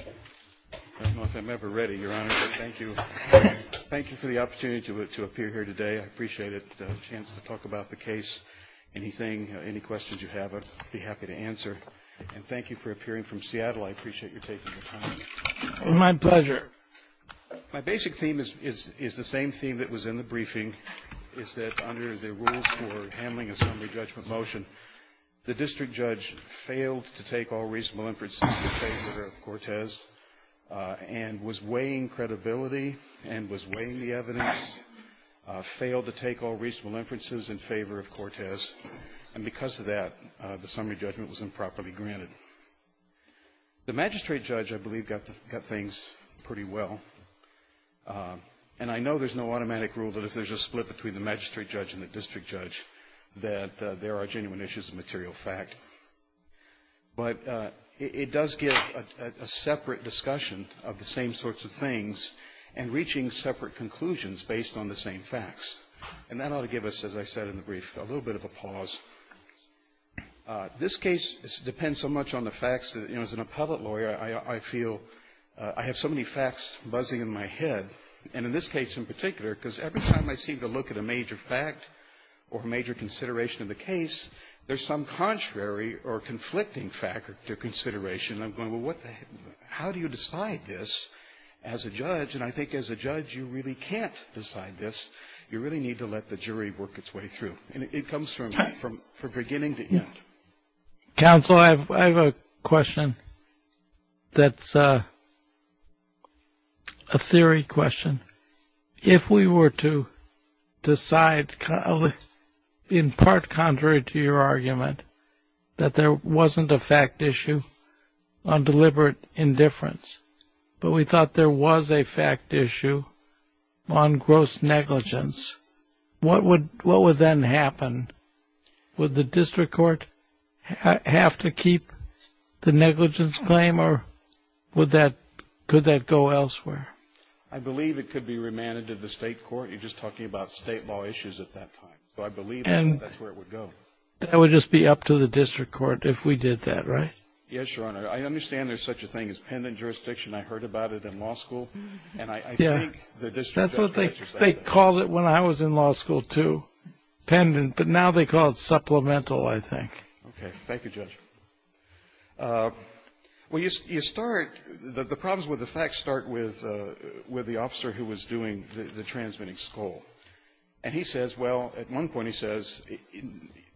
I don't know if I'm ever ready, Your Honor, but thank you. Thank you for the opportunity to appear here today. I appreciate the chance to talk about the case. Anything, any questions you have, I'd be happy to answer. And thank you for appearing from Seattle. I appreciate your taking the time. My pleasure. My basic theme is the same theme that was in the briefing, is that under the rules for handling a summary judgment motion, the district judge failed to take all reasonable inferences in favor of Cortez and was weighing credibility and was weighing the evidence, failed to take all reasonable inferences in favor of Cortez, and because of that, the summary judgment was improperly granted. The magistrate judge, I believe, got things pretty well. And I know there's no automatic rule that if there's a split between the magistrate judge and the district judge that there are genuine issues of material fact, but it does give a separate discussion of the same sorts of things and reaching separate conclusions based on the same facts. And that ought to give us, as I said in the brief, a little bit of a pause. This case depends so much on the facts that, you know, as an appellate lawyer, I feel I have so many facts buzzing in my head, and in this case in particular, because every time I seem to look at a major fact or a major consideration of the case, there's some contrary or conflicting fact or consideration. I'm going, well, how do you decide this as a judge? And I think as a judge, you really can't decide this. You really need to let the jury work its way through. It comes from beginning to end. Counsel, I have a question that's a theory question. If we were to decide, in part contrary to your argument, that there wasn't a fact issue on deliberate indifference, but we thought there was a fact issue on gross negligence, what would then happen? Would the district court have to keep the negligence claim, or could that go elsewhere? I believe it could be remanded to the state court. You're just talking about state law issues at that time. So I believe that's where it would go. That would just be up to the district court if we did that, right? Yes, Your Honor. I understand there's such a thing as pendant jurisdiction. I heard about it in law school, and I think the district judge would be interested in it. They called it when I was in law school, too, pendant. But now they call it supplemental, I think. Okay. Thank you, Judge. Well, you start the problems with the facts start with the officer who was doing the transmitting school. And he says, well, at one point he says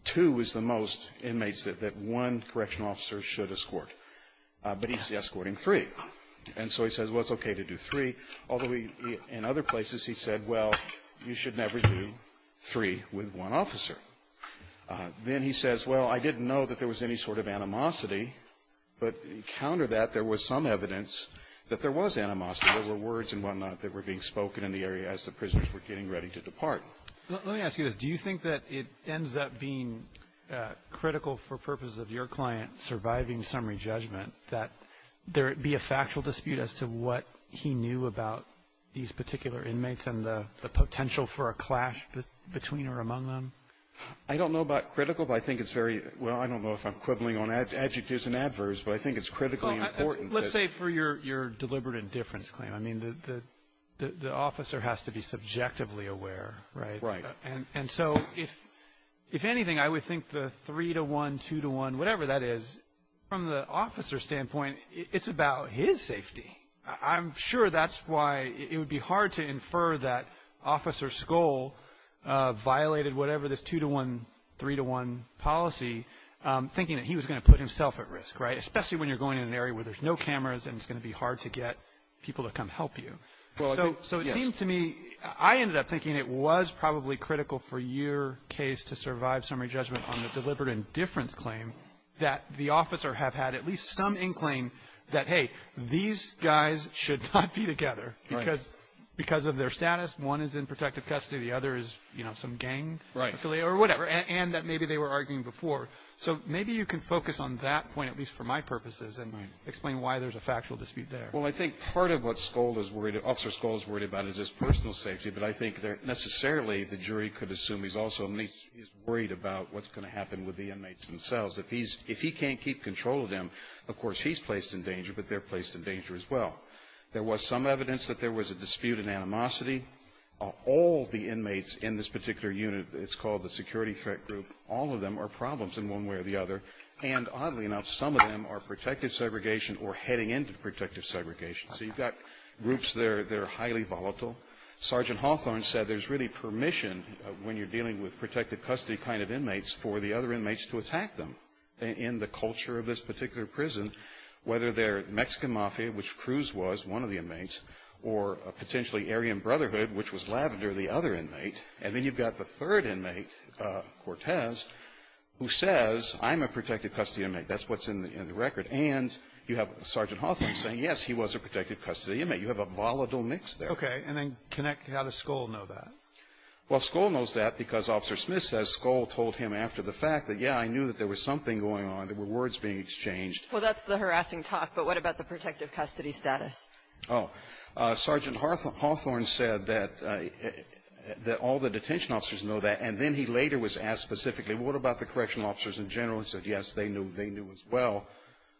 two was the most inmates that one correctional officer should escort. But he's escorting three. And so he says, well, it's okay to do three. Although he, in other places, he said, well, you should never do three with one officer. Then he says, well, I didn't know that there was any sort of animosity. But counter that, there was some evidence that there was animosity. There were words and whatnot that were being spoken in the area as the prisoners were getting ready to depart. Let me ask you this. Do you think that it ends up being critical for purposes of your client surviving summary judgment that there be a factual dispute as to what he knew about these particular inmates and the potential for a clash between or among them? I don't know about critical, but I think it's very well, I don't know if I'm quibbling on adjectives and adverbs, but I think it's critically important. Let's say for your deliberate indifference claim. I mean, the officer has to be subjectively aware, right? Right. And so if anything, I would think the three to one, two to one, whatever that is, from the officer's standpoint, it's about his safety. I'm sure that's why it would be hard to infer that Officer Skoll violated whatever this two to one, three to one policy, thinking that he was going to put himself at risk, right? Especially when you're going in an area where there's no cameras and it's going to be hard to get people to come help you. So it seems to me, I ended up thinking it was probably critical for your case to survive summary judgment on the deliberate indifference claim that the officer have had at least some incline that, hey, these guys should not be together because of their status. One is in protective custody, the other is, you know, some gang affiliate or whatever, and that maybe they were arguing before. So maybe you can focus on that point, at least for my purposes, and explain why there's a factual dispute there. Well, I think part of what Skoll is worried about is his personal safety, but I think necessarily the jury could assume he's also worried about what's going to happen with the inmates themselves. If he can't keep control of them, of course he's placed in danger, but they're placed in danger as well. There was some evidence that there was a dispute in animosity. All the inmates in this particular unit, it's called the security threat group, all of them are problems in one way or the other, and oddly enough, some of them are protective segregation or heading into protective segregation. So you've got groups that are highly volatile. Sergeant Hawthorne said there's really permission when you're dealing with protected custody kind of inmates for the other inmates to attack them. In the culture of this particular prison, whether they're Mexican Mafia, which Cruz was, one of the inmates, or potentially Aryan Brotherhood, which was Lavender, the other inmate, and then you've got the third inmate, Cortez, who says, I'm a protected custody inmate. That's what's in the record. And you have Sergeant Hawthorne saying, yes, he was a protected custody inmate. You have a volatile mix there. Okay. And then how does Skoll know that? Well, Skoll knows that because Officer Smith says Skoll told him after the fact that, yeah, I knew that there was something going on. There were words being exchanged. Well, that's the harassing talk. But what about the protective custody status? Oh. Sergeant Hawthorne said that all the detention officers know that. And then he later was asked specifically, what about the correctional officers in general, and said, yes, they knew as well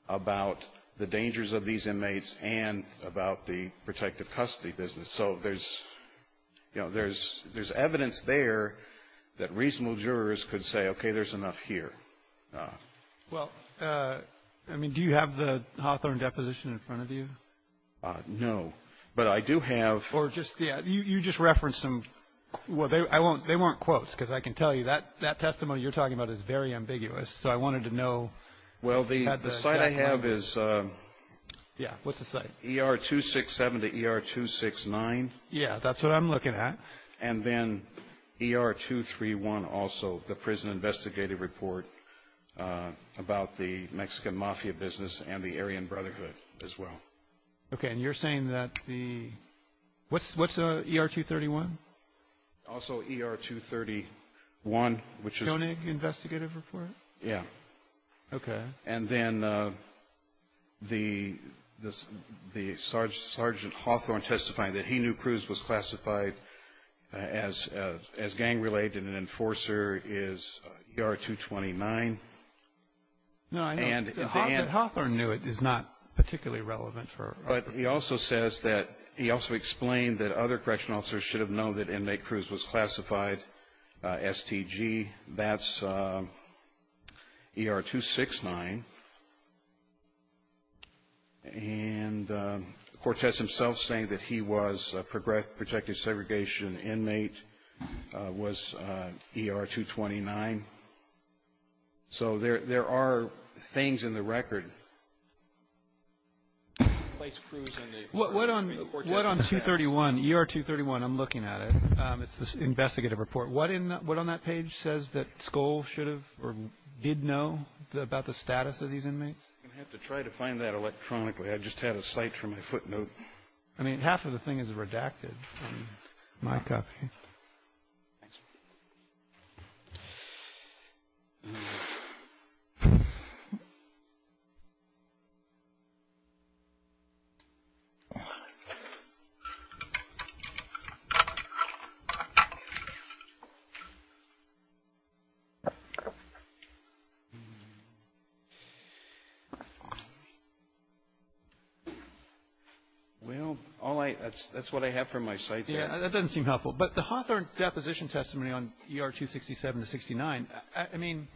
about the dangers of these inmates and about the protective custody business. So there's, you know, there's evidence there that reasonable jurors could say, okay, there's enough here. Well, I mean, do you have the Hawthorne deposition in front of you? No. But I do have. Or just, yeah, you just referenced some, well, they weren't quotes, because I can tell you, that testimony you're talking about is very ambiguous. So I wanted to know. Well, the site I have is ER-267 to ER-269. Yeah, that's what I'm looking at. And then ER-231 also, the prison investigative report about the Mexican mafia business and the Aryan Brotherhood as well. Okay. And you're saying that the, what's ER-231? Also ER-231, which is. Koenig investigative report? Yeah. Okay. And then the Sergeant Hawthorne testifying that he knew Cruz was classified as gang-related and an enforcer is ER-229. No, I know. But Hawthorne knew it is not particularly relevant for. But he also says that, he also explained that other correctional officers should have known that inmate Cruz was classified STG. That's ER-269. And Cortez himself saying that he was a protected segregation inmate was ER-229. So there are things in the record. What on 231, ER-231, I'm looking at it. It's this investigative report. What on that page says that Skoll should have or did know about the status of these inmates? I'm going to have to try to find that electronically. I just had a cite for my footnote. I mean, half of the thing is redacted. My copy. Thanks. Well, that's what I have from my cite there. That doesn't seem helpful. But the Hawthorne deposition testimony on ER-267 to 69, I mean,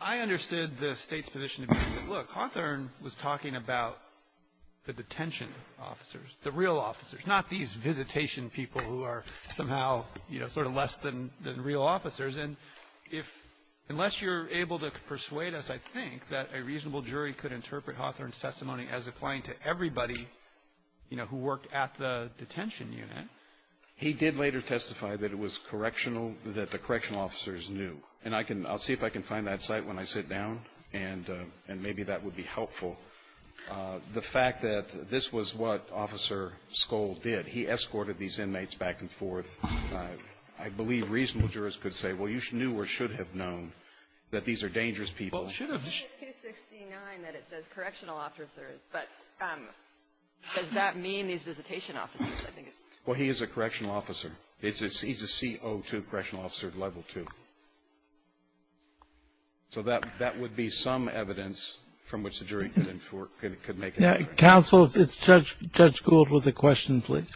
I understood the State's position to be, look, Hawthorne was talking about the detention officers, the real officers, not these visitation people who are somehow, you know, sort of less than real officers. And if unless you're able to persuade us, I think, that a reasonable jury could interpret Hawthorne's testimony as applying to everybody, you know, who worked at the detention unit. He did later testify that it was correctional, that the correctional officers knew. And I can see if I can find that cite when I sit down, and maybe that would be helpful. The fact that this was what Officer Skoll did, he escorted these inmates back and forth. I believe reasonable jurists could say, well, you knew or should have known that these are dangerous people. Well, he is a correctional officer. He's a CO2 correctional officer, level 2. So that would be some evidence from which the jury could make an inference. Counsel, it's Judge Gould with a question, please.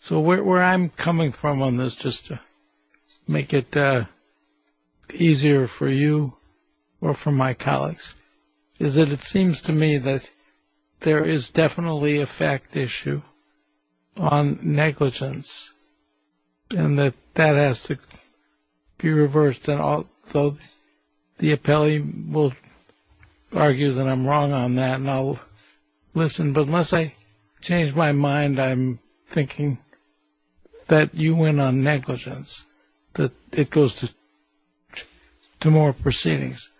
So where I'm coming from on this, just to make it easier for you or for my colleagues, is that it seems to me that there is definitely a fact issue on negligence, and that that has to be reversed. And the appellee will argue that I'm wrong on that, and I'll listen. But unless I change my mind, I'm thinking that you win on negligence, that it goes to more proceedings.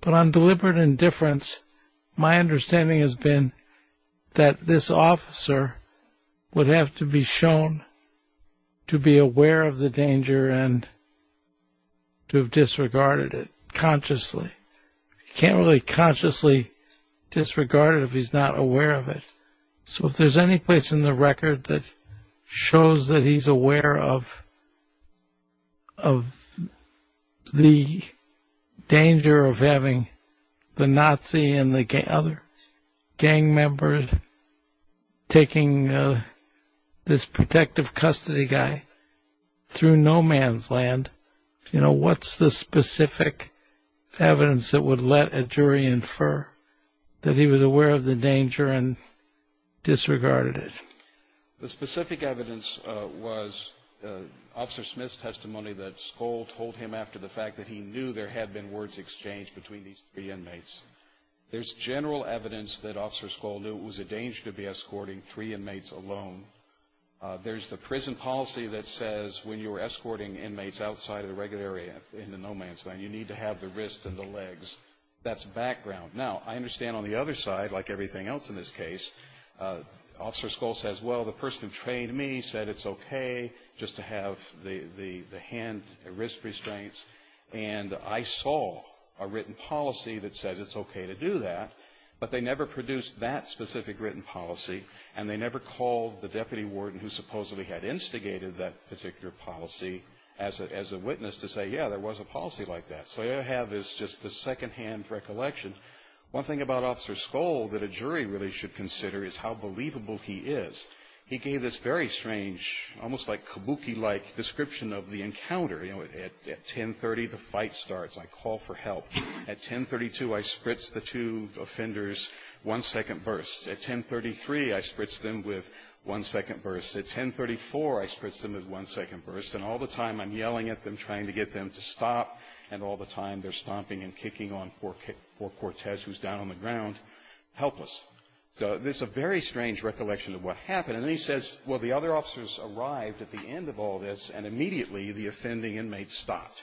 But on deliberate indifference, my understanding has been that this officer would have to be shown to be aware of the danger and to have disregarded it consciously. You can't really consciously disregard it if he's not aware of it. So if there's any place in the record that shows that he's aware of the danger of having the Nazi and the other gang members taking this protective custody guy through no man's land, you know, what's the specific evidence that would let a jury infer that he was aware of the danger and disregarded it? The specific evidence was Officer Smith's testimony that Skoll told him after the fact that he knew there had been words exchanged between these three inmates. There's general evidence that Officer Skoll knew it was a danger to be escorting three inmates alone. There's the prison policy that says when you're escorting inmates outside of the regular area in the no man's land, you need to have the wrist and the legs. That's background. Now, I understand on the other side, like everything else in this case, Officer Skoll says, well, the person who trained me said it's okay just to have the hand and wrist restraints, and I saw a written policy that said it's okay to do that, but they never produced that specific written policy, and they never called the deputy warden who supposedly had instigated that particular policy as a witness to say, yeah, there was a policy like that. So all you have is just a secondhand recollection. One thing about Officer Skoll that a jury really should consider is how believable he is. He gave this very strange, almost like kabuki-like description of the encounter. You know, at 1030, the fight starts. I call for help. At 1032, I spritz the two offenders one second burst. At 1033, I spritz them with one second burst. At 1034, I spritz them with one second burst. And all the time, I'm yelling at them, trying to get them to stop, and all the time, they're stomping and kicking on poor Cortez, who's down on the ground, helpless. So this is a very strange recollection of what happened. And then he says, well, the other officers arrived at the end of all this, and immediately the offending inmates stopped.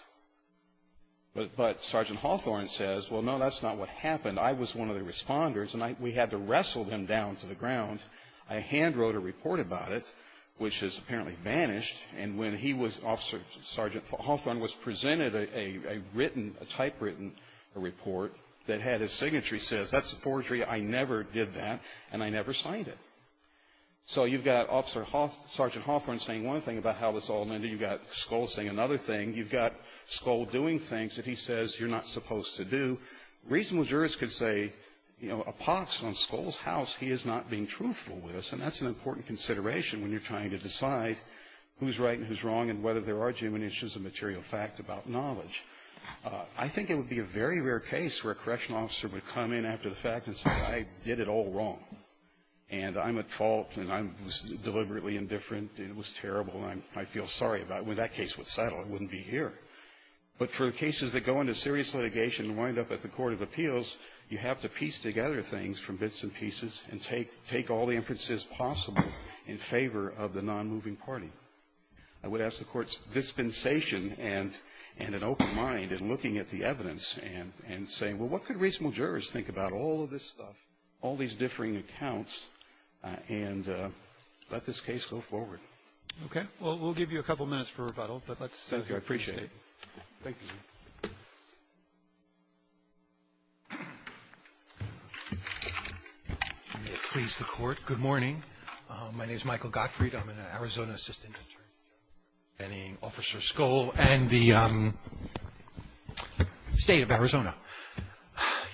But Sergeant Hawthorne says, well, no, that's not what happened. I was one of the responders, and we had to wrestle them down to the ground. I handwrote a report about it, which has apparently vanished. And when he was Officer Sergeant Hawthorne was presented a written, a typewritten report that had his signatory says, that's a forgery. I never did that, and I never signed it. So you've got Officer Sergeant Hawthorne saying one thing about how this all ended. You've got Skoll saying another thing. You've got Skoll doing things that he says you're not supposed to do. A reasonable jurist could say, you know, a pox on Skoll's house. He is not being truthful with us. And that's an important consideration when you're trying to decide who's right and who's wrong and whether there are genuine issues of material fact about knowledge. I think it would be a very rare case where a correctional officer would come in after the fact and say, I did it all wrong, and I'm at fault, and I was deliberately indifferent, and it was terrible, and I feel sorry about it. I mean, that case would settle. It wouldn't be here. But for cases that go into serious litigation and wind up at the court of appeals, you have to piece together things from bits and pieces and take all the inferences possible in favor of the nonmoving party. I would ask the Court's dispensation and an open mind in looking at the evidence and saying, well, what could reasonable jurists think about all of this stuff, all these differing accounts, and let this case go forward. Roberts. Okay. Well, we'll give you a couple minutes for rebuttal. Thank you. I appreciate it. Thank you. May it please the Court. Good morning. My name is Michael Gottfried. I'm an Arizona assistant attorney. I'm an officer of Skoll and the State of Arizona.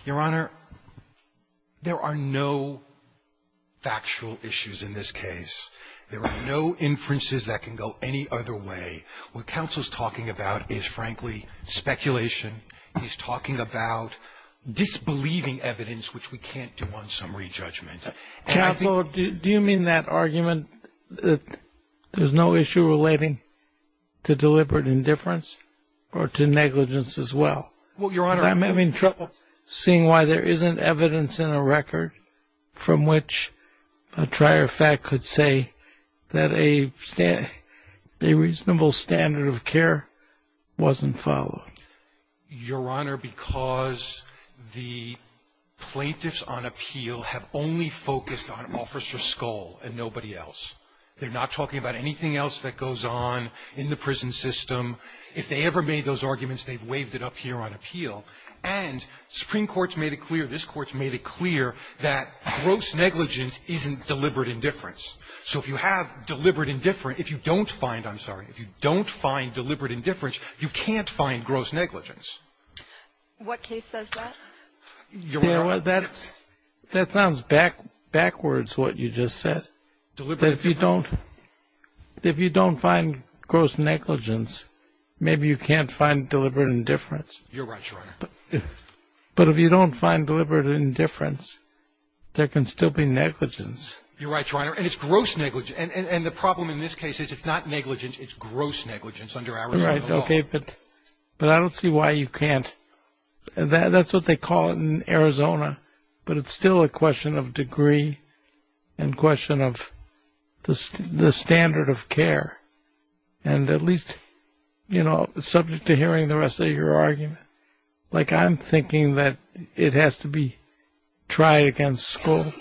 Your Honor, there are no factual issues in this case. There are no inferences that can go any other way. What counsel is talking about is, frankly, speculation. He's talking about disbelieving evidence, which we can't do on summary judgment. Counsel, do you mean that argument that there's no issue relating to deliberate indifference or to negligence as well? Well, Your Honor. I'm having trouble seeing why there isn't evidence in a record from which a trier of fact could say that a reasonable standard of care wasn't followed. Your Honor, because the plaintiffs on appeal have only focused on Officer Skoll and nobody else. They're not talking about anything else that goes on in the prison system. If they ever made those arguments, they've waved it up here on appeal. And Supreme Court's made it clear, this Court's made it clear, that gross negligence isn't deliberate indifference. So if you have deliberate indifference, if you don't find, I'm sorry, if you don't find deliberate indifference, you can't find gross negligence. What case says that? Your Honor. That sounds backwards, what you just said. Deliberate indifference. If you don't find gross negligence, maybe you can't find deliberate indifference. You're right, Your Honor. But if you don't find deliberate indifference, there can still be negligence. You're right, Your Honor. And it's gross negligence. And the problem in this case is it's not negligence, it's gross negligence under Arizona law. Right. Okay. But I don't see why you can't. That's what they call it in Arizona. But it's still a question of degree and question of the standard of care. And at least, you know, subject to hearing the rest of your argument, like I'm thinking that it has to be tried against school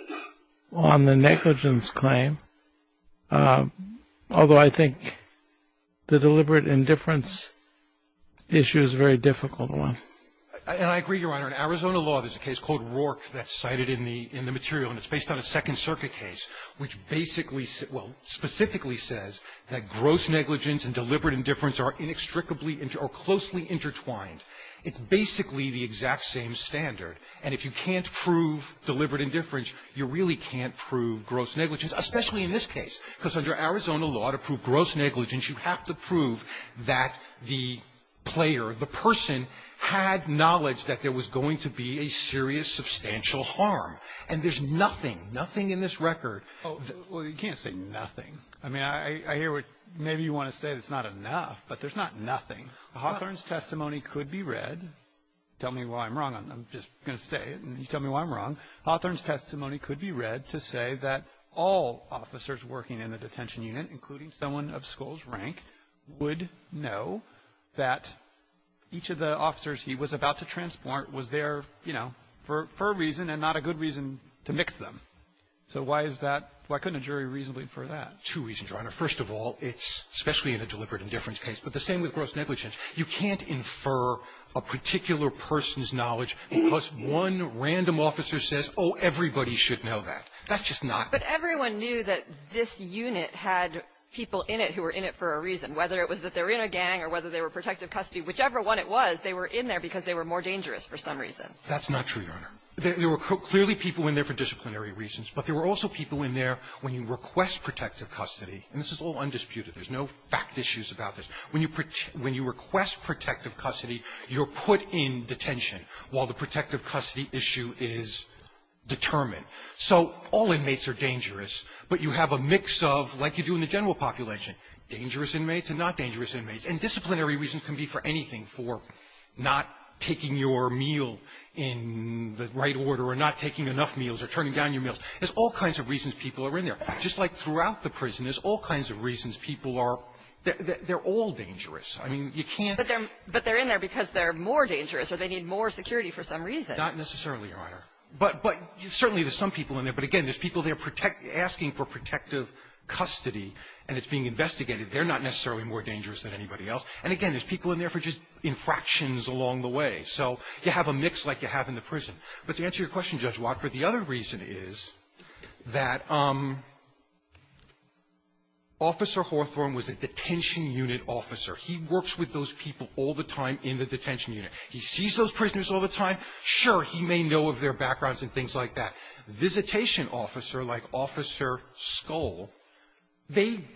on the negligence claim, although I think the deliberate indifference issue is a very difficult one. And I agree, Your Honor. In Arizona law, there's a case called Rourke that's cited in the material, and it's based on a Second Circuit case, which basically, well, specifically says that gross negligence and deliberate indifference are inextricably or closely intertwined. It's basically the exact same standard. And if you can't prove deliberate indifference, you really can't prove gross negligence, especially in this case, because under Arizona law, to prove gross negligence, you have to prove that the player, the person, had knowledge that there was going to be a serious substantial harm. And there's nothing, nothing in this record. Well, you can't say nothing. I mean, I hear what maybe you want to say that's not enough, but there's not nothing. Hawthorne's testimony could be read. Tell me why I'm wrong. I'm just going to say it, and you tell me why I'm wrong. Hawthorne's testimony could be read to say that all officers working in the detention unit, including someone of Skoll's rank, would know that each of the officers he was about to transport was there, you know, for a reason and not a good reason to mix them. So why is that? Why couldn't a jury reasonably infer that? Two reasons, Your Honor. First of all, it's especially in a deliberate indifference case. But the same with gross negligence. You can't infer a particular person's knowledge because one random officer says, oh, everybody should know that. That's just not the case. But everyone knew that this unit had people in it who were in it for a reason, whether it was that they were in a gang or whether they were protective custody. Whichever one it was, they were in there because they were more dangerous for some reason. That's not true, Your Honor. There were clearly people in there for disciplinary reasons, but there were also people in there when you request protective custody. And this is all undisputed. There's no fact issues about this. When you request protective custody, you're put in detention while the protective custody issue is determined. So all inmates are dangerous, but you have a mix of, like you do in the general population, dangerous inmates and not dangerous inmates. And disciplinary reasons can be for anything, for not taking your meal in the right order or not taking enough meals or turning down your meals. There's all kinds of reasons people are in there. Just like throughout the prison, there's all kinds of reasons people are – they're all dangerous. I mean, you can't – But they're in there because they're more dangerous or they need more security for some reason. Not necessarily, Your Honor. But certainly there's some people in there. But again, there's people there asking for protective custody, and it's being investigated. They're not necessarily more dangerous than anybody else. And again, there's people in there for just infractions along the way. So you have a mix like you have in the prison. But to answer your question, Judge Wadford, the other reason is that Officer Hawthorne was a detention unit officer. He works with those people all the time in the detention unit. He sees those prisoners all the time. Sure, he may know of their backgrounds and things like that. Visitation officer, like Officer Skoll, they –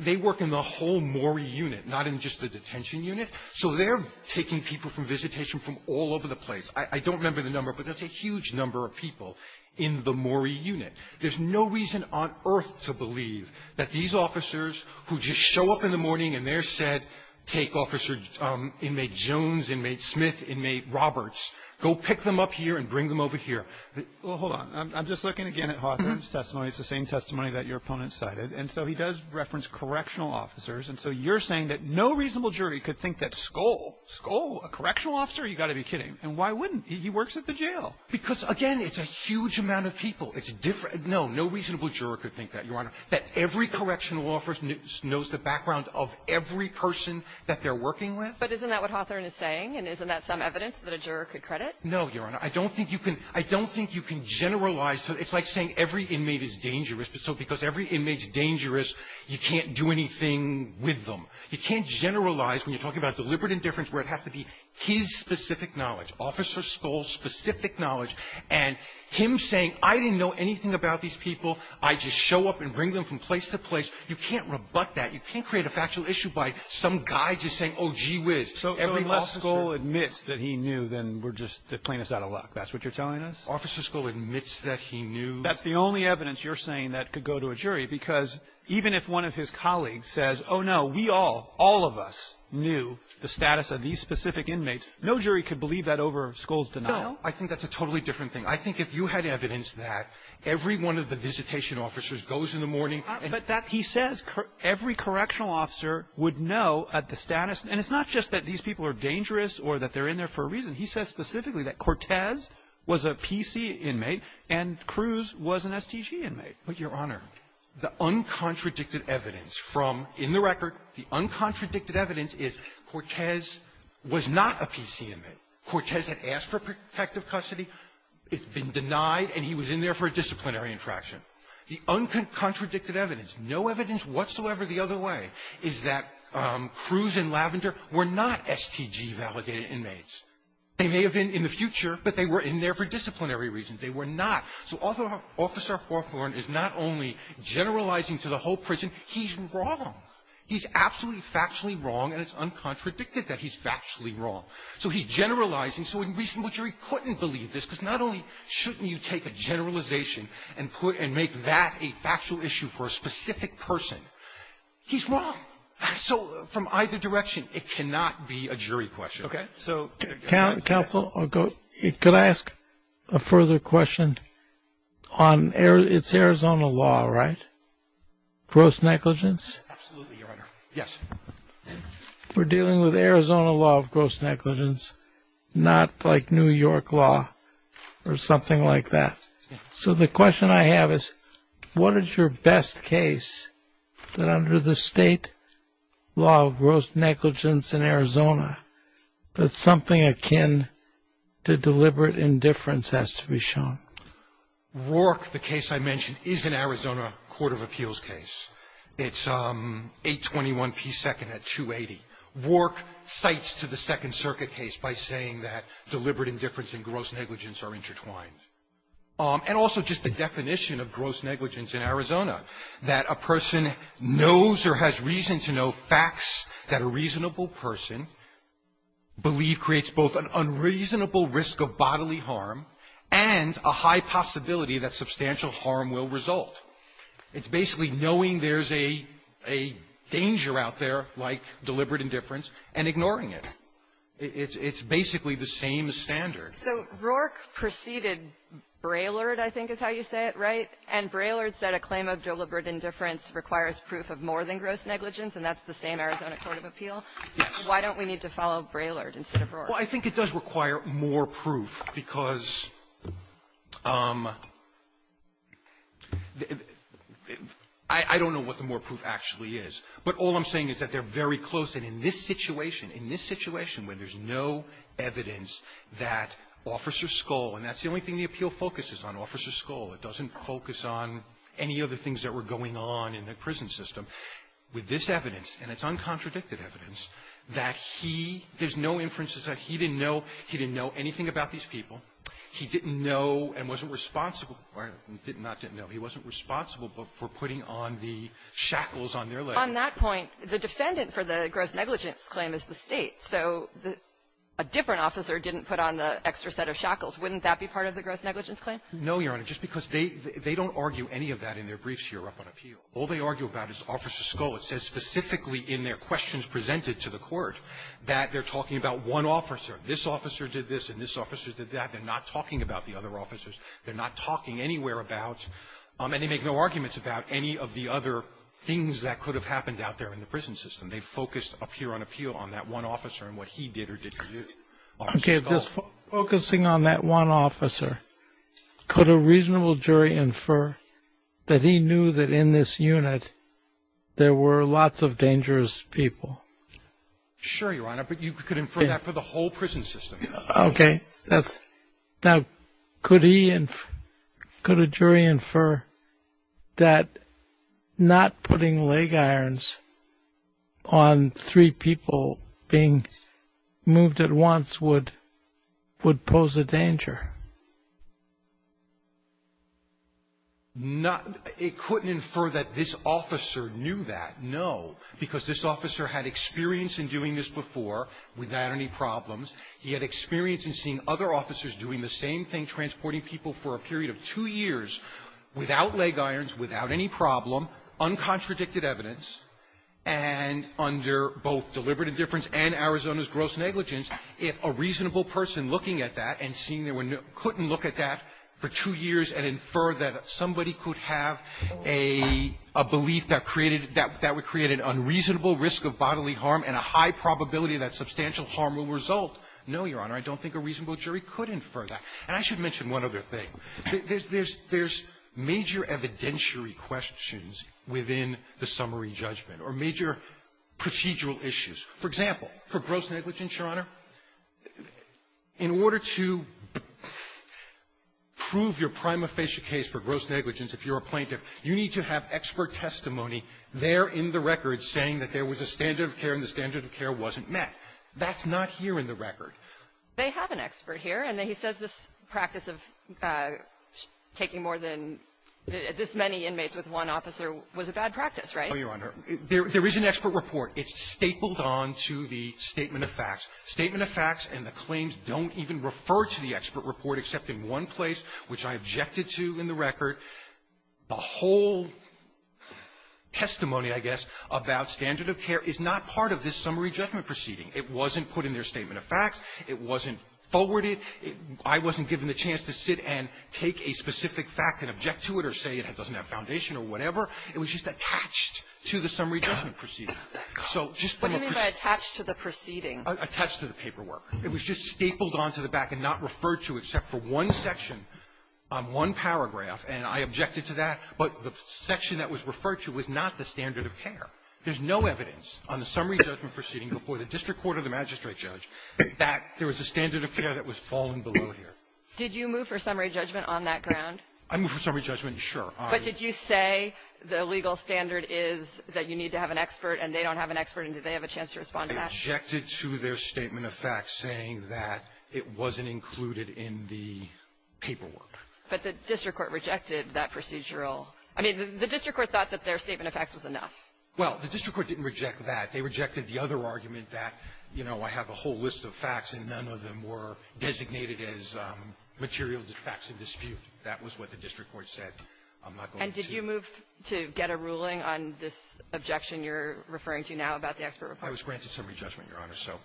they work in the whole Morey unit, not in just the detention unit. So they're taking people from visitation from all over the place. I – I don't remember the number, but that's a huge number of people in the Morey unit. There's no reason on earth to believe that these officers who just show up in the morning and they're said, take Officer Inmate Jones, Inmate Smith, Inmate Roberts, go pick them up here and bring them over here. Well, hold on. I'm just looking again at Hawthorne's testimony. It's the same testimony that your opponent cited. And so he does reference correctional officers. And so you're saying that no reasonable jury could think that Skoll – Skoll, a correctional officer? You've got to be kidding. And why wouldn't? He works at the jail. Because, again, it's a huge amount of people. It's different – no, no reasonable juror could think that, Your Honor, that every correctional officer knows the background of every person that they're working with. But isn't that what Hawthorne is saying? And isn't that some evidence that a juror could credit? No, Your Honor. I don't think you can – I don't think you can generalize. So it's like saying every inmate is dangerous. But so because every inmate is dangerous, you can't do anything with them. You can't generalize when you're talking about deliberate indifference where it has to be his specific knowledge, Officer Skoll's specific knowledge. And him saying, I didn't know anything about these people. I just show up and bring them from place to place, you can't rebut that. You can't create a factual issue by some guy just saying, oh, gee whiz. So every officer – That's what you're telling us? Officer Skoll admits that he knew. That's the only evidence you're saying that could go to a jury because even if one of his colleagues says, oh, no, we all, all of us knew the status of these specific inmates, no jury could believe that over Skoll's denial. No. I think that's a totally different thing. I think if you had evidence that every one of the visitation officers goes in the morning and – But that he says every correctional officer would know at the status – and it's not just that these people are dangerous or that they're in there for a reason. He says specifically that Cortez was a PC inmate and Cruz was an STG inmate. But, Your Honor, the uncontradicted evidence from – in the record, the uncontradicted evidence is Cortez was not a PC inmate. Cortez had asked for protective custody. It's been denied, and he was in there for a disciplinary infraction. The uncontradicted evidence, no evidence whatsoever the other way, is that Cruz and Lavender were not STG-validated inmates. They may have been in the future, but they were in there for disciplinary reasons. They were not. So Officer Hawthorne is not only generalizing to the whole prison. He's wrong. He's absolutely factually wrong, and it's uncontradicted that he's factually wrong. So he's generalizing. So a reasonable jury couldn't believe this, because not only shouldn't you take a generalization and put – and make that a factual issue for a specific person, he's wrong. So from either direction, it cannot be a jury question. Okay? So – Counsel, could I ask a further question on – it's Arizona law, right? Gross negligence? Absolutely, Your Honor. Yes. We're dealing with Arizona law of gross negligence, not like New York law or something like that. So the question I have is, what is your best case that under the state law of gross negligence, something akin to deliberate indifference has to be shown? Wark, the case I mentioned, is an Arizona court of appeals case. It's 821 P. 2nd at 280. Wark cites to the Second Circuit case by saying that deliberate indifference and gross negligence are intertwined. And also just the definition of gross negligence in Arizona, that a person knows or has reason to know facts that a reasonable person believe creates both an unreasonable risk of bodily harm and a high possibility that substantial harm will result. It's basically knowing there's a danger out there like deliberate indifference and ignoring it. It's basically the same standard. So Wark preceded Braylord, I think is how you say it, right? And Braylord said a claim of deliberate indifference requires proof of more than gross negligence, and that's the same Arizona court of appeal. Wark, why don't we need to follow Braylord instead of Wark? Well, I think it does require more proof because I don't know what the more proof actually is, but all I'm saying is that they're very close. And in this situation, in this situation where there's no evidence that Officer It doesn't focus on any of the things that were going on in the prison system. With this evidence, and it's uncontradicted evidence, that he — there's no inferences that he didn't know. He didn't know anything about these people. He didn't know and wasn't responsible — or not didn't know. He wasn't responsible for putting on the shackles on their leg. On that point, the defendant for the gross negligence claim is the State. So a different officer didn't put on the extra set of shackles. Wouldn't that be part of the gross negligence claim? No, Your Honor. Just because they — they don't argue any of that in their briefs here up on appeal. All they argue about is Officer Scull. It says specifically in their questions presented to the Court that they're talking about one officer. This officer did this and this officer did that. They're not talking about the other officers. They're not talking anywhere about — and they make no arguments about any of the other things that could have happened out there in the prison system. They focused up here on appeal on that one officer and what he did or didn't do. Okay, just focusing on that one officer, could a reasonable jury infer that he knew that in this unit there were lots of dangerous people? Sure, Your Honor, but you could infer that for the whole prison system. Okay, that's — now, could he — could a jury infer that not putting leg irons on three people being moved at once would — would pose a danger? Not — it couldn't infer that this officer knew that, no, because this officer had experience in doing this before without any problems. He had experience in seeing other officers doing the same thing, transporting people for a period of two years without leg irons, without any problem, uncontradicted evidence, and under both deliberate indifference and Arizona's gross negligence. If a reasonable person looking at that and seeing there were — couldn't look at that for two years and infer that somebody could have a — a belief that created — that would create an unreasonable risk of bodily harm and a high probability that substantial harm will result, no, Your Honor, I don't think a reasonable jury could infer that. And I should mention one other thing. There's — there's — there's major evidentiary questions within the summary judgment or major procedural issues. For example, for gross negligence, Your Honor, in order to prove your prima facie case for gross negligence, if you're a plaintiff, you need to have expert testimony there in the record saying that there was a standard of care and the standard That's not here in the record. They have an expert here, and he says this practice of taking more than this many inmates with one officer was a bad practice, right? Oh, Your Honor, there — there is an expert report. It's stapled on to the statement of facts. Statement of facts and the claims don't even refer to the expert report, except in one place, which I objected to in the record. The whole testimony, I guess, about standard of care is not part of this summary judgment proceeding. It wasn't put in their statement of facts. It wasn't forwarded. I wasn't given the chance to sit and take a specific fact and object to it or say it doesn't have foundation or whatever. It was just attached to the summary judgment proceeding. What do you mean by attached to the proceeding? Attached to the paperwork. It was just stapled on to the back and not referred to except for one section on one paragraph, and I objected to that. But the section that was referred to was not the standard of care. There's no evidence on the summary judgment proceeding before the district court or the magistrate judge that there was a standard of care that was fallen below here. Did you move for summary judgment on that ground? I moved for summary judgment, sure. But did you say the legal standard is that you need to have an expert and they don't have an expert, and did they have a chance to respond to that? I objected to their statement of facts saying that it wasn't included in the paperwork. But the district court rejected that procedural — I mean, the district court thought that their statement of facts was enough. Well, the district court didn't reject that. They rejected the other argument that, you know, I have a whole list of facts and none of them were designated as material facts of dispute. That was what the district court said. I'm not going to see — And did you move to get a ruling on this objection you're referring to now about the expert report? I was granted summary judgment, Your Honor. So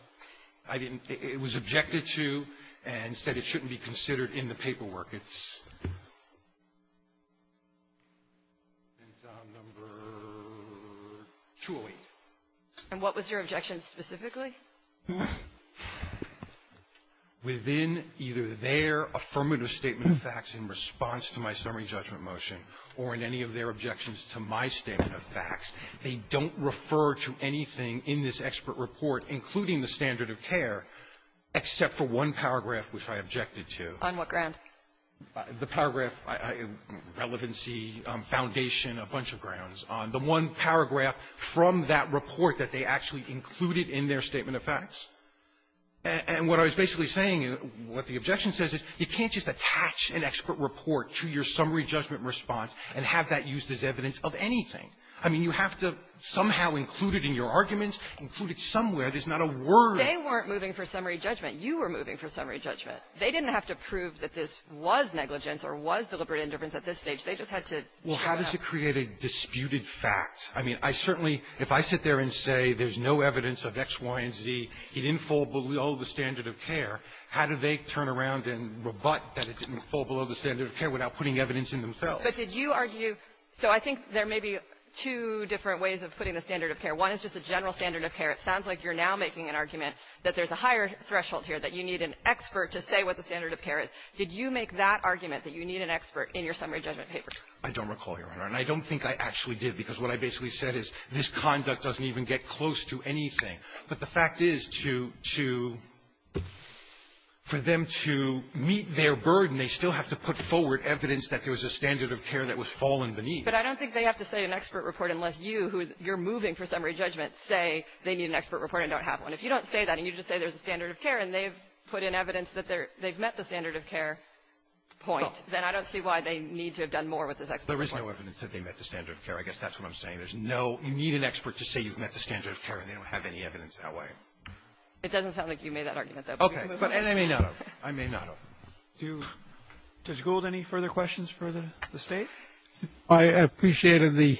I didn't — it was objected to and said it shouldn't be considered in the paperwork. It's on number 208. And what was your objection specifically? Within either their affirmative statement of facts in response to my summary judgment motion or in any of their objections to my statement of facts, they don't refer to anything in this expert report, including the standard of care, except for one paragraph which I objected to. On what ground? The paragraph, relevancy, foundation, a bunch of grounds. On the one paragraph from that report that they actually included in their statement of facts. And what I was basically saying, what the objection says is you can't just attach an expert report to your summary judgment response and have that used as evidence of anything. I mean, you have to somehow include it in your arguments, include it somewhere. There's not a word. They weren't moving for summary judgment. You were moving for summary judgment. They didn't have to prove that this was negligence or was deliberate indifference at this stage. They just had to show up. Well, how does it create a disputed fact? I mean, I certainly — if I sit there and say there's no evidence of X, Y, and Z, it didn't fall below the standard of care, how do they turn around and rebut that it didn't fall below the standard of care without putting evidence in themselves? But did you argue — so I think there may be two different ways of putting the standard of care. One is just a general standard of care. It sounds like you're now making an argument that there's a higher threshold here, that you need an expert to say what the standard of care is. Did you make that argument, that you need an expert in your summary judgment papers? I don't recall, Your Honor. And I don't think I actually did, because what I basically said is this conduct doesn't even get close to anything. But the fact is, to — to — for them to meet their burden, they still have to put forward evidence that there was a standard of care that was fallen beneath. But I don't think they have to say an expert report unless you, who you're moving for summary judgment, say they need an expert report and don't have one. If you don't say that, and you just say there's a standard of care, and they've put in evidence that they've met the standard of care point, then I don't see why they need to have done more with this expert report. There is no evidence that they met the standard of care. I guess that's what I'm saying. There's no — you need an expert to say you've met the standard of care, and they don't have any evidence that way. It doesn't sound like you made that argument, though. Okay. But I may not have. I may not have. Do — Judge Gould, any further questions for the — the State? I appreciated the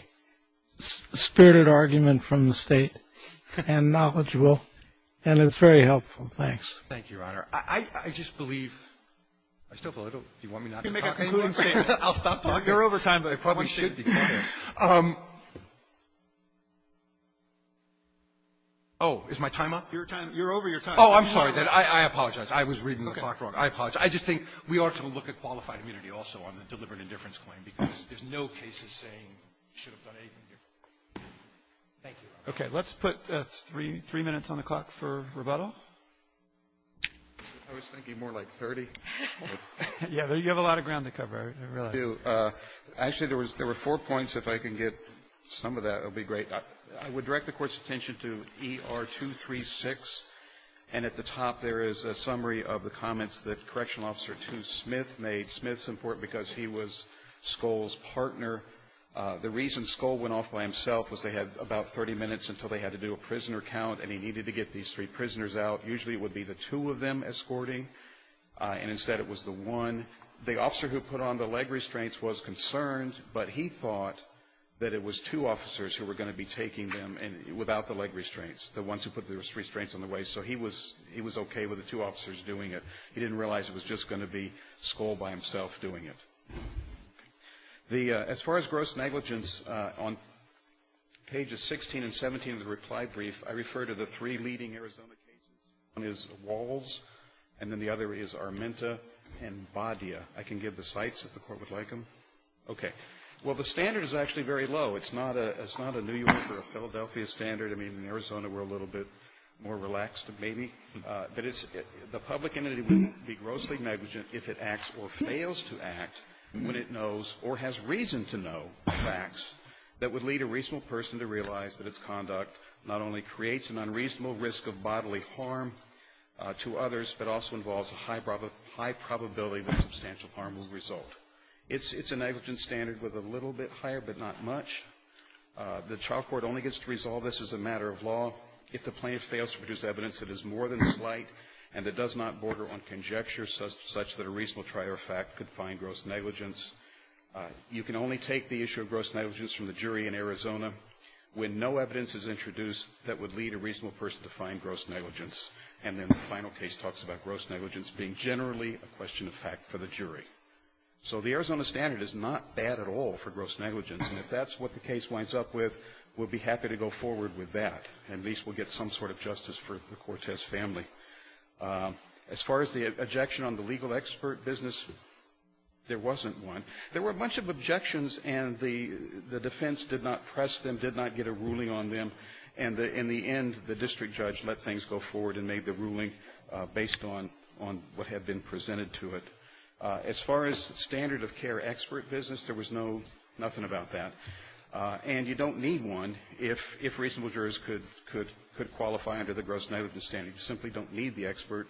spirited argument from the State and knowledgeable. And it's very helpful. Thanks. Thank you, Your Honor. I just believe — I still believe — do you want me not to talk anymore? You can make a concluding statement. I'll stop talking. You're over time, but I probably should be. I probably should be. Oh, is my time up? Your time — you're over your time. Oh, I'm sorry. I apologize. I was reading the clock wrong. Okay. I apologize. I just think we ought to look at qualified immunity also on the deliberate indifference claim, because there's no cases saying you should have done anything here. Thank you, Your Honor. Okay. Let's put three minutes on the clock for rebuttal. I was thinking more like 30. Yeah. You have a lot of ground to cover, I realize. I do. Actually, there were four points. If I can get some of that, it would be great. I would direct the Court's attention to ER236, and at the top, there is a summary of the comments that Correctional Officer 2 Smith made. Smith's important because he was Skoll's partner. The reason Skoll went off by himself was they had about 30 minutes until they had to do a prisoner count, and he needed to get these three prisoners out. Usually, it would be the two of them escorting, and instead, it was the one. The officer who put on the leg restraints was concerned, but he thought that it was two officers who were going to be taking them without the leg restraints, the ones who put the restraints on the way, so he was okay with the two officers doing it. He didn't realize it was just going to be Skoll by himself doing it. As far as gross negligence, on pages 16 and 17 of the reply brief, I refer to the three leading Arizona cases. One is Walls, and then the other is Armenta and Badia. I can give the sites, if the Court would like them. Okay. Well, the standard is actually very low. It's not a New York or a Philadelphia standard. I mean, in Arizona, we're a little bit more relaxed, maybe. But it's the public entity wouldn't be grossly negligent if it acts or fails to act when it knows or has reason to know facts that would lead a reasonable person to realize that its conduct not only creates an unreasonable risk of bodily harm to others, but also involves a high probability that substantial harm will result. It's a negligent standard with a little bit higher, but not much. The trial court only gets to resolve this as a matter of law if the plaintiff fails to produce evidence that is more than slight and that does not border on conjecture such that a reasonable trial fact could find gross negligence. You can only take the issue of gross negligence from the jury in Arizona when no evidence is introduced that would lead a reasonable person to find gross negligence. And then the final case talks about gross negligence being generally a question of fact for the jury. So the Arizona standard is not bad at all for gross negligence. And if that's what the case winds up with, we'll be happy to go forward with that. At least we'll get some sort of justice for the Cortez family. As far as the objection on the legal expert business, there wasn't one. There were a bunch of objections, and the defense did not press them, did not get a ruling on them. And in the end, the district judge let things go forward and made the ruling based on what had been presented to it. As far as standard of care expert business, there was no nothing about that. And you don't need one if reasonable jurors could qualify under the gross negligence standard. You simply don't need the expert.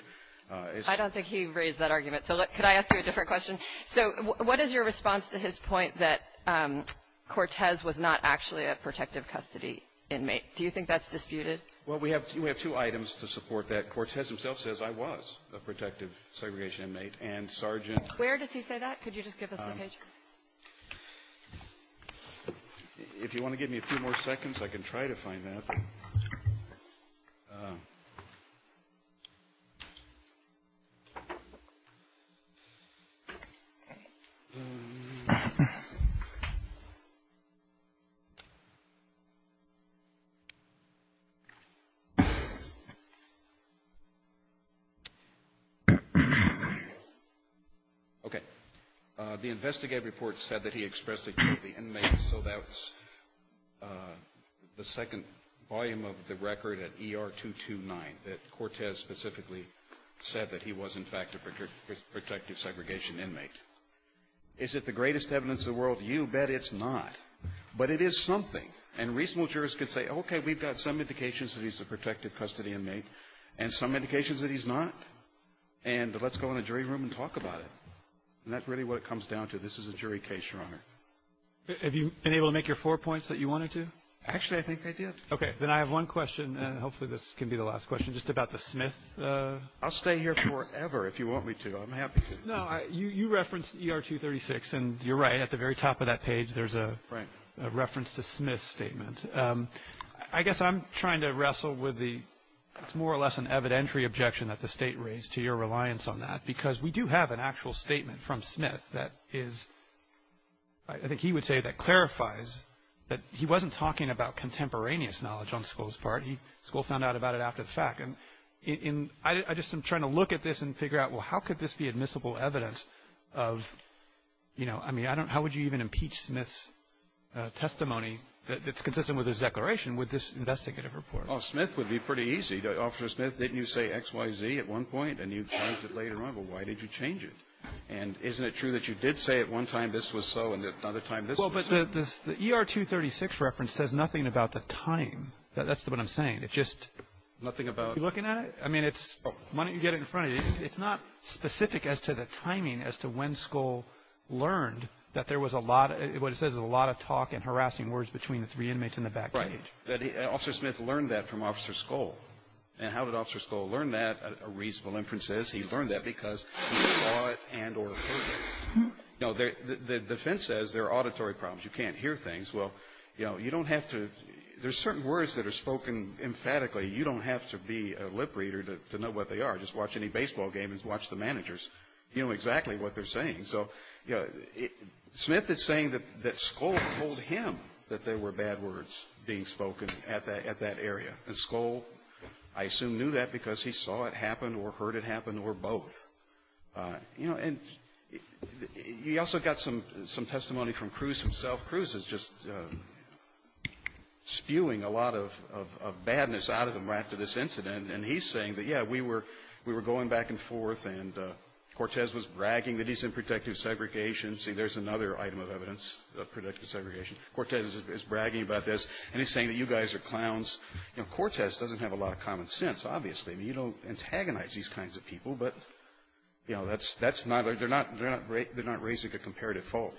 Kagan. I don't think he raised that argument. So could I ask you a different question? So what is your response to his point that Cortez was not actually a protective custody inmate? Do you think that's disputed? Well, we have two items to support that. Cortez himself says I was a protective segregation inmate. And Sergeant ---- Where does he say that? Could you just give us the page? If you want to give me a few more seconds, I can try to find that. Okay. The investigative report said that he expressed that he was the inmate. So that's the second volume of the record at ER 229 that Cortez specifically said that he was in fact a protective segregation inmate. Is it the greatest evidence in the world? You bet it's not. But it is something. And reasonable jurors could say, okay, we've got some indications that he's a protective custody inmate and some indications that he's not. And let's go in the jury room and talk about it. And that's really what it comes down to. This is a jury case, Your Honor. Have you been able to make your four points that you wanted to? Actually, I think I did. Okay. Then I have one question. Hopefully this can be the last question. Just about the Smith. I'll stay here forever if you want me to. I'm happy to. No. You referenced ER 236. And you're right. At the very top of that page, there's a reference to Smith's statement. I guess I'm trying to wrestle with the more or less an evidentiary objection that the State raised to your reliance on that. Because we do have an actual statement from Smith that is, I think he would say, that clarifies that he wasn't talking about contemporaneous knowledge on Skoll's part. Skoll found out about it after the fact. And I just am trying to look at this and figure out, well, how could this be admissible evidence of, you know, I mean, how would you even impeach Smith's testimony that's consistent with his declaration with this investigative report? Well, Smith would be pretty easy. Officer Smith, didn't you say X, Y, Z at one point? And you changed it later on. Well, why did you change it? And isn't it true that you did say at one time this was so and at another time this was so? Well, but the ER 236 reference says nothing about the time. That's what I'm saying. It just — Nothing about — Are you looking at it? I mean, it's — Oh. Why don't you get it in front of you? It's not specific as to the timing as to when Skoll learned that there was a lot of — what it says is a lot of talk and harassing words between the three inmates in the back cage. Right. Officer Smith learned that from Officer Skoll. And how did Officer Skoll learn that? A reasonable inference is he learned that because he saw it and or heard it. No. The defense says there are auditory problems. You can't hear things. Well, you know, you don't have to — there's certain words that are spoken emphatically. You don't have to be a lip reader to know what they are. Just watch any baseball game and watch the managers. You know exactly what they're saying. So, you know, Smith is saying that Skoll told him that there were bad words being spoken at that area. And Skoll, I assume, knew that because he saw it happen or heard it happen or both. You know, and you also got some testimony from Cruz himself. Cruz is just spewing a lot of badness out of him after this incident. And he's saying that, yeah, we were going back and forth, and Cortez was bragging that he's in protective segregation. See, there's another item of evidence of protective segregation. Cortez is bragging about this, and he's saying that you guys are clowns. You know, Cortez doesn't have a lot of common sense, obviously. I mean, you don't antagonize these kinds of people, but, you know, that's not — they're not raising a comparative fault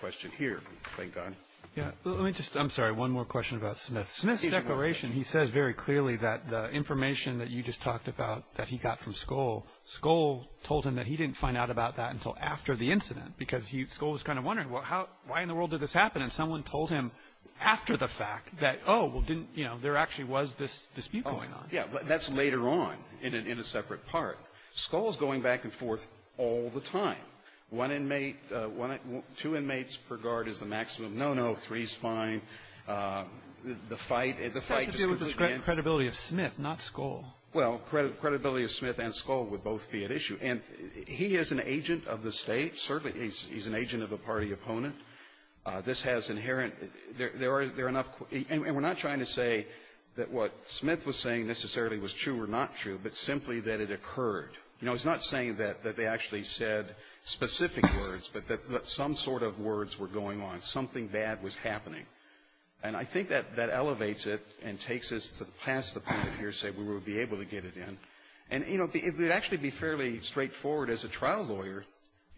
question here, thank God. Yeah. Let me just — I'm sorry, one more question about Smith. Smith's declaration, he says very clearly that the information that you just talked about that he got from Skoll, Skoll told him that he didn't find out about that until after the incident because he — Skoll was kind of wondering, well, how — why in the world did this happen? And someone told him after the fact that, oh, well, didn't — you know, there actually was this dispute going on. Yeah. But that's later on in a separate part. Skoll is going back and forth all the time. One inmate — two inmates per guard is the maximum. No, no, three is fine. The fight — It has to do with the credibility of Smith, not Skoll. Well, credibility of Smith and Skoll would both be at issue. And he is an agent of the State. Certainly, he's an agent of a party opponent. This has inherent — there are no questions about whether that necessarily was true or not true, but simply that it occurred. You know, it's not saying that they actually said specific words, but that some sort of words were going on. Something bad was happening. And I think that that elevates it and takes us to the past, the point of hearsay, where we would be able to get it in. And, you know, it would actually be fairly straightforward as a trial lawyer.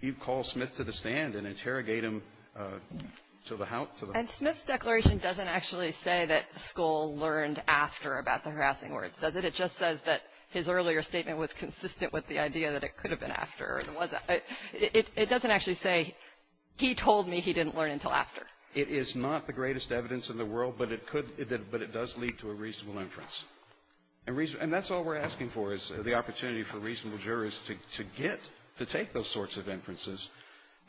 You'd call Smith to the stand and interrogate him to the — And Smith's declaration doesn't actually say that Skoll learned after about the harassing words, does it? It just says that his earlier statement was consistent with the idea that it could have been after. It doesn't actually say, he told me he didn't learn until after. It is not the greatest evidence in the world, but it could — but it does lead to a reasonable inference. And reason — and that's all we're asking for, is the opportunity for reasonable jurors to — to get — to take those sorts of inferences.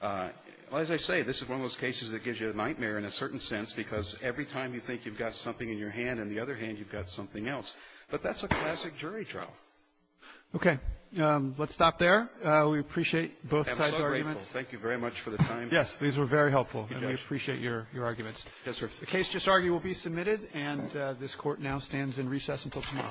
As I say, this is one of those cases that gives you a nightmare in a certain sense because every time you think you've got something in your hand, in the other hand, you've got something else. But that's a classic jury trial. Okay. Let's stop there. We appreciate both sides' arguments. I'm so grateful. Thank you very much for the time. Yes. These were very helpful. And we appreciate your — your arguments. Yes, sir. The case just argued will be submitted, and this Court now stands in recess until tomorrow.